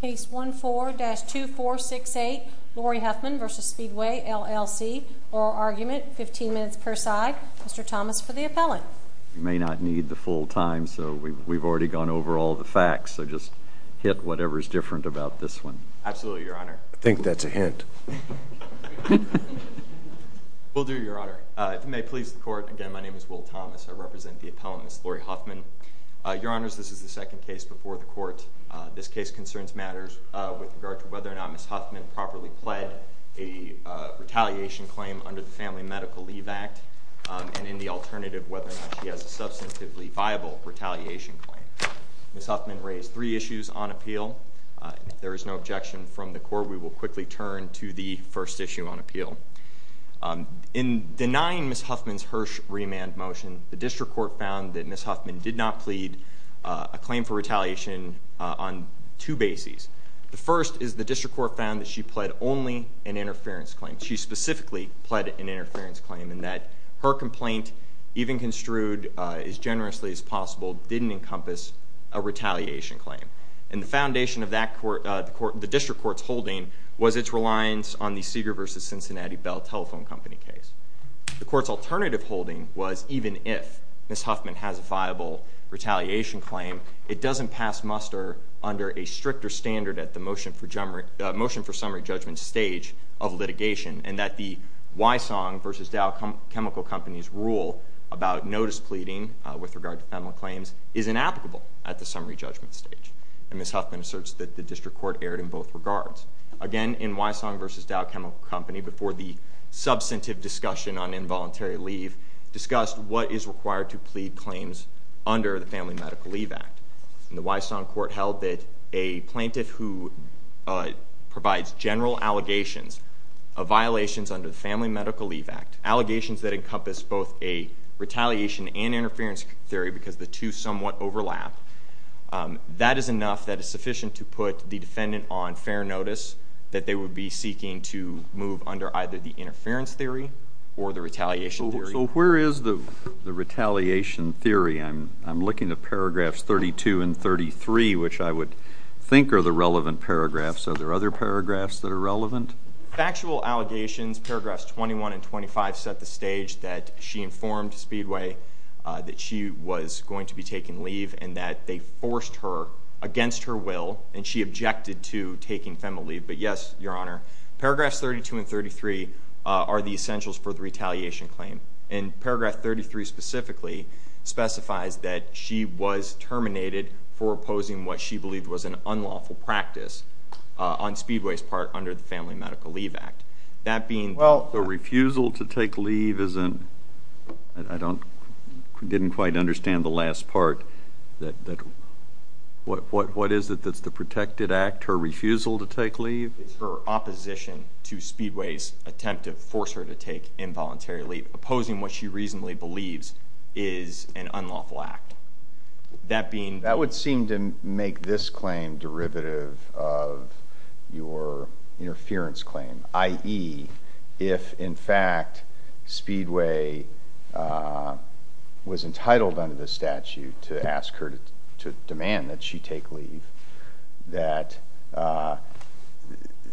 Case 14-2468, Lauri Huffman v. Speedway, LLC. Oral argument, 15 minutes per side. Mr. Thomas for the appellant. You may not need the full time, so we've already gone over all the facts, so just hit whatever is different about this one. Absolutely, Your Honor. I think that's a hint. Will do, Your Honor. If it may please the court, again, my name is Will Thomas. I represent the appellant, Ms. Lauri Huffman. Your Honors, this is the second case before the court. This case concerns matters with regard to whether or not Ms. Huffman properly pled a retaliation claim under the Family Medical Leave Act, and in the alternative, whether or not she has a substantively viable retaliation claim. Ms. Huffman raised three issues on appeal. If there is no objection from the court, we will quickly turn to the first issue on appeal. In denying Ms. Huffman's Hirsch remand motion, the district court found that Ms. Huffman did not have a viable retaliation on two bases. The first is the district court found that she pled only an interference claim. She specifically pled an interference claim in that her complaint, even construed as generously as possible, didn't encompass a retaliation claim. And the foundation of the district court's holding was its reliance on the Seeger versus Cincinnati Bell Telephone Company case. The court's alternative holding was even if Ms. Huffman has a viable retaliation claim, it doesn't pass muster under a stricter standard at the motion for summary judgment stage of litigation, and that the Wysong versus Dow Chemical Company's rule about notice pleading with regard to family claims is inapplicable at the summary judgment stage. And Ms. Huffman asserts that the district court erred in both regards. Again, in Wysong versus Dow Chemical Company, before the substantive discussion on involuntary leave, discussed what is required to plead claims under the Family Medical Leave Act. And the Wysong court held that a plaintiff who provides general allegations of violations under the Family Medical Leave Act, allegations that encompass both a retaliation and interference theory because the two somewhat overlap, that is enough that it's sufficient to put the defendant on fair notice that they would be seeking to move under either the interference theory or the retaliation theory. So where is the retaliation theory? I'm looking at paragraphs 32 and 33, which I would think are the relevant paragraphs. Are there other paragraphs that are relevant? Factual allegations, paragraphs 21 and 25 set the stage that she informed Speedway that she was going to be taking leave and that they forced her against her will and she objected to taking FEMA leave. But yes, Your Honor, paragraphs 32 and 33 are the essentials for the retaliation claim. And paragraph 33 specifically specifies that she was terminated for opposing what she believed was an unlawful practice on Speedway's part under the Family Medical Leave Act. That being- Well, the refusal to take leave isn't, I didn't quite understand the last part. What is it that's the protected act, her refusal to take leave? Her opposition to Speedway's attempt to force her to take involuntary leave, opposing what she reasonably believes is an unlawful act. That being- That would seem to make this claim derivative of your interference claim, i.e., if in fact Speedway was entitled under the statute to ask her to demand that she take leave, that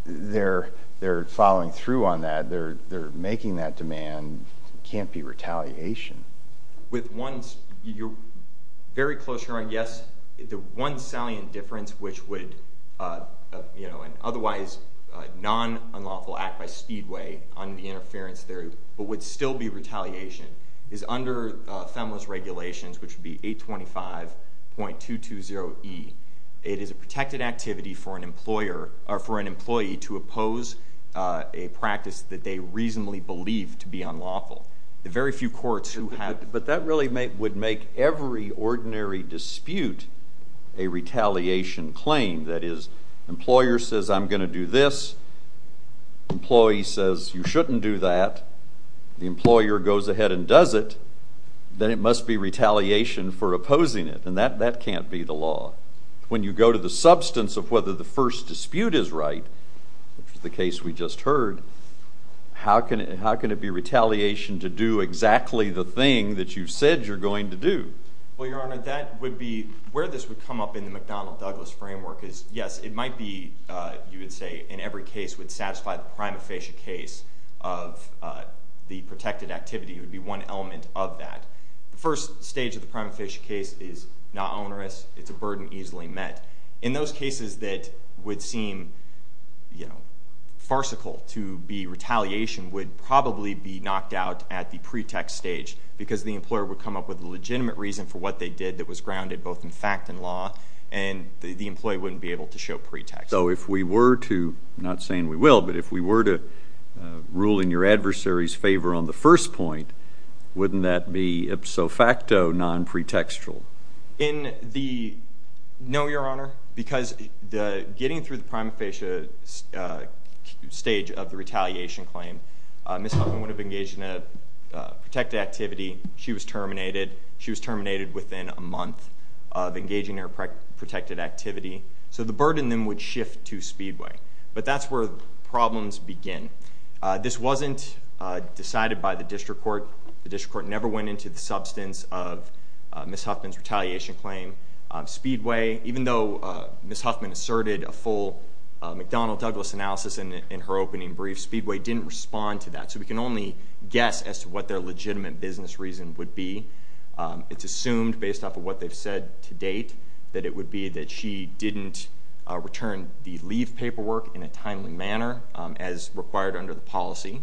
they're following through on that, they're making that demand, can't be retaliation. With one, you're very close, Your Honor. Yes, the one salient difference, which would, you know, an otherwise non-unlawful act by Speedway on the interference there, but would still be retaliation, is under FEMA's regulations, which would be 825.220E. It is a protected activity for an employer, or for an employee to oppose a practice that they reasonably believe to be unlawful. The very few courts who have- But that really would make every ordinary dispute a retaliation claim. That is, employer says, I'm gonna do this. Employee says, you shouldn't do that. The employer goes ahead and does it. Then it must be retaliation for opposing it, and that can't be the law. When you go to the substance of whether the first dispute is right, which is the case we just heard, how can it be retaliation to do exactly the thing that you said you're going to do? Well, Your Honor, that would be, where this would come up in the McDonnell-Douglas framework is, yes, it might be, you would say, in every case would satisfy the prima facie case of the protected activity. It would be one element of that. The first stage of the prima facie case is not onerous. It's a burden easily met. In those cases that would seem, you know, farcical to be retaliation would probably be knocked out at the pretext stage because the employer would come up with a legitimate reason for what they did that was grounded both in fact and law, and the employee wouldn't be able to show pretext. So if we were to, I'm not saying we will, but if we were to rule in your adversary's favor on the first point, wouldn't that be ipso facto non-pretextual? In the, no, Your Honor, because getting through the prima facie stage of the retaliation claim, Ms. Huffman would have engaged in a protected activity. She was terminated. She was terminated within a month of engaging in her protected activity. So the burden then would shift to Speedway, but that's where the problems begin. This wasn't decided by the district court. The district court never went into the substance of Ms. Huffman's retaliation claim. Speedway, even though Ms. Huffman asserted a full McDonnell-Douglas analysis in her opening brief, Speedway didn't respond to that. So we can only guess as to what their legitimate business reason would be. It's assumed based off of what they've said to date that it would be that she didn't return the leave paperwork in a timely manner as required under the policy.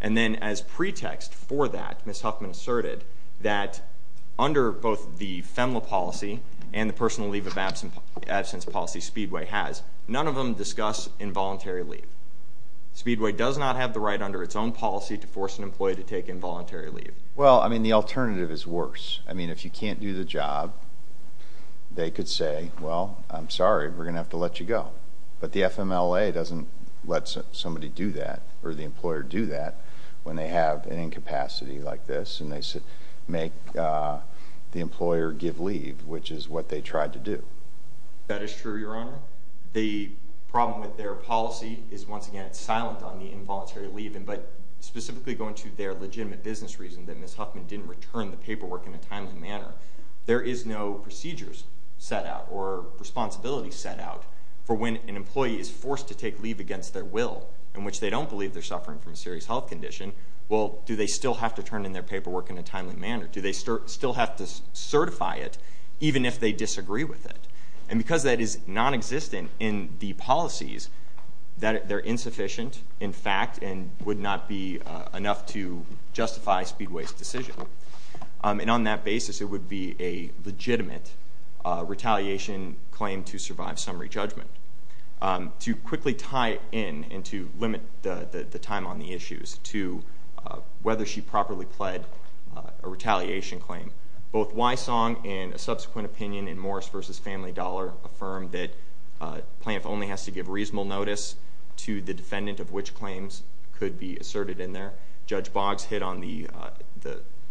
And then as pretext for that, Ms. Huffman asserted that under both the FEMLA policy and the personal leave of absence policy Speedway has, none of them discuss involuntary leave. Speedway does not have the right under its own policy to force an employee to take involuntary leave. Well, I mean, the alternative is worse. I mean, if you can't do the job, they could say, well, I'm sorry, we're gonna have to let you go. But the FMLA doesn't let somebody do that or the employer do that when they have an incapacity like this and they make the employer give leave, which is what they tried to do. That is true, Your Honor. The problem with their policy is once again, it's silent on the involuntary leave, but specifically going to their legitimate business reason that Ms. Huffman didn't return the paperwork in a timely manner. There is no procedures set out or responsibility set out for when an employee is forced to take leave against their will in which they don't believe they're suffering from a serious health condition. Well, do they still have to turn in their paperwork in a timely manner? Do they still have to certify it even if they disagree with it? And because that is non-existent in the policies, that they're insufficient in fact and would not be enough to justify Speedway's decision. And on that basis, it would be a legitimate retaliation claim to survive summary judgment. To quickly tie in and to limit the time on the issues to whether she properly pled a retaliation claim, both Wysong and a subsequent opinion in Morris v. Family Dollar affirmed that Plaintiff only has to give reasonable notice to the defendant of which claims could be asserted in there. Judge Boggs hit on the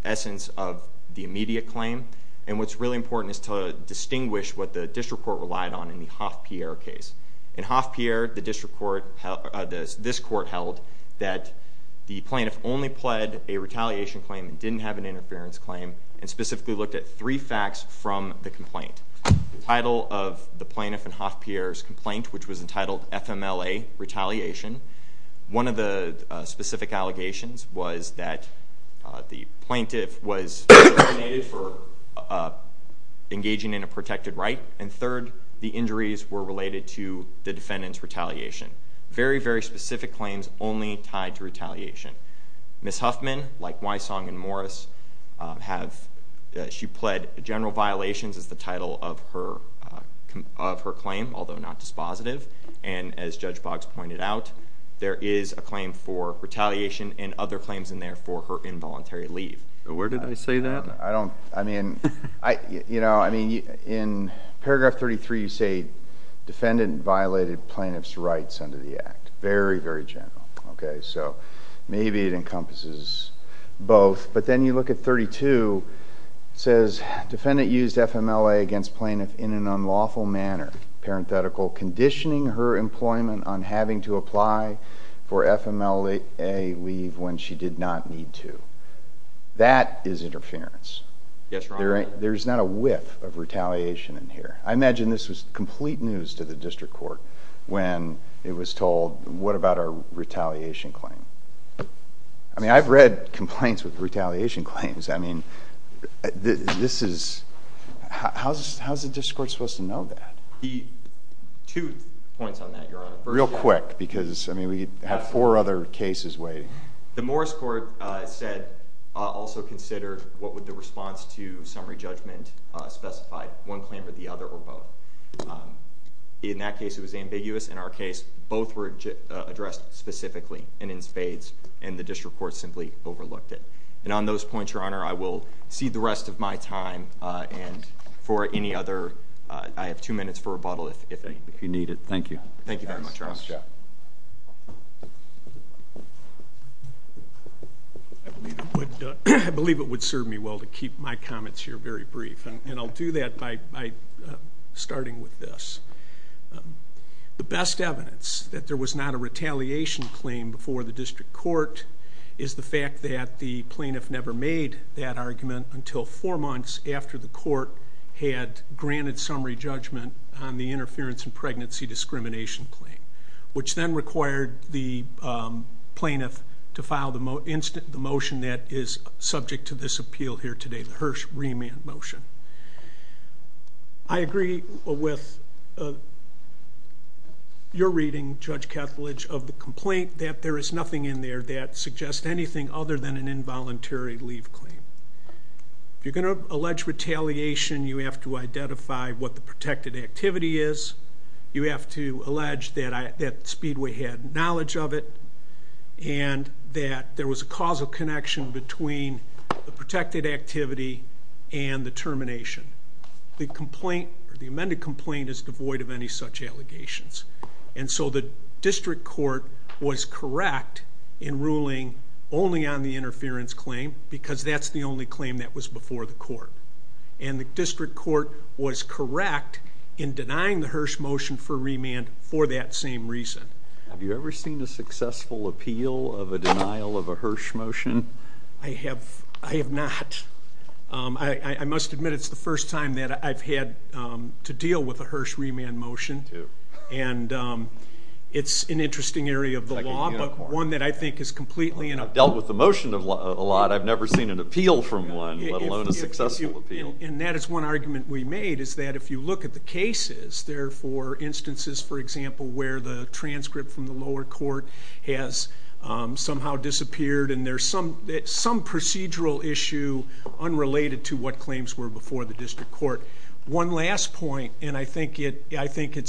essence of the immediate claim. And what's really important is to distinguish what the District Court relied on in the Hoff-Pierre case. In Hoff-Pierre, this court held that the plaintiff only pled a retaliation claim and didn't have an interference claim and specifically looked at three facts from the complaint. The title of the plaintiff in Hoff-Pierre's complaint, which was entitled FMLA Retaliation. One of the specific allegations was that the plaintiff was designated for engaging in a protected right. And third, the injuries were related to the defendant's retaliation. Very, very specific claims only tied to retaliation. Ms. Huffman, like Wysong and Morris, she pled general violations as the title of her claim, although not dispositive. And as Judge Boggs pointed out, there is a claim for retaliation and other claims in there for her involuntary leave. Where did I say that? I don't, I mean, in paragraph 33, you say defendant violated plaintiff's rights under the act. Very, very general, okay? So maybe it encompasses both. But then you look at 32, it says, defendant used FMLA against plaintiff in an unlawful manner, parenthetical, conditioning her employment on having to apply for FMLA leave when she did not need to. That is interference. Yes, Your Honor. There's not a whiff of retaliation in here. I imagine this was complete news to the district court when it was told, what about our retaliation claim? I mean, I've read complaints with retaliation claims. I mean, this is, how's the district court supposed to know that? Two points on that, Your Honor. Real quick, because I mean, we have four other cases waiting. The Morris court said, also consider, what would the response to summary judgment specify? One claim or the other, or both? In that case, it was ambiguous. In our case, both were addressed specifically and in spades, and the district court simply overlooked it. And on those points, Your Honor, I will cede the rest of my time, and for any other, I have two minutes for rebuttal, if any. If you need it, thank you. Thank you very much, Your Honor. I believe it would serve me well to keep my comments here very brief, and I'll do that by starting with this. The best evidence that there was not a retaliation claim before the district court is the fact that the plaintiff never made that argument until four months after the court had granted summary judgment on the interference in pregnancy discrimination claim, which then required the plaintiff to file the motion that is subject to this appeal here today, the Hirsch remand motion. I agree with your reading, Judge Kethledge, of the complaint that there is nothing in there that suggests anything other than an involuntary leave claim. If you're gonna allege retaliation, you have to identify what the protected activity is. You have to allege that Speedway had knowledge of it, and that there was a causal connection between the protected activity and the termination. The complaint, or the amended complaint, is devoid of any such allegations. And so the district court was correct in ruling only on the interference claim because that's the only claim that was before the court. And the district court was correct in denying the Hirsch motion for remand for that same reason. Have you ever seen a successful appeal of a denial of a Hirsch motion? I have not. I must admit, it's the first time that I've had to deal with a Hirsch remand motion, and it's an interesting area of the law, but one that I think is completely inappropriate. I've dealt with the motion a lot. I've never seen an appeal from one, let alone a successful appeal. And that is one argument we made, is that if you look at the cases, there are four instances, for example, where the transcript from the lower court has somehow disappeared, and there's some procedural issue unrelated to what claims were before the district court. One last point, and I think it's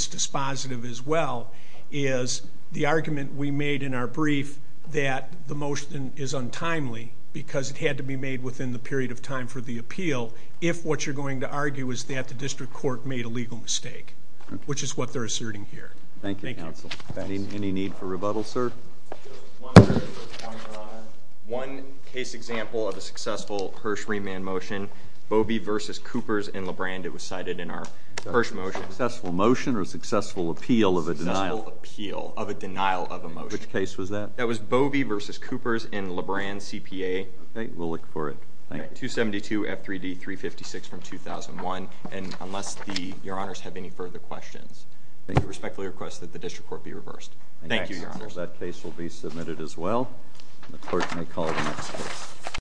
dispositive as well, is the argument we made in our brief that the motion is untimely because it had to be made within the period of time for the appeal. If what you're going to argue is that the district court made a legal mistake, which is what they're asserting here. Thank you, counsel. Any need for rebuttal, sir? One case example of a successful Hirsch remand motion, Bovey v. Coopers in LeBrand. It was cited in our Hirsch motion. Successful motion or successful appeal of a denial? Successful appeal of a denial of a motion. Which case was that? That was Bovey v. Coopers in LeBrand CPA. Okay, we'll look for it. 272 F3D 356 from 2001. And unless your honors have any further questions, I respectfully request that the district court be reversed. Thank you, your honors. That case will be submitted as well. The court may call the next case.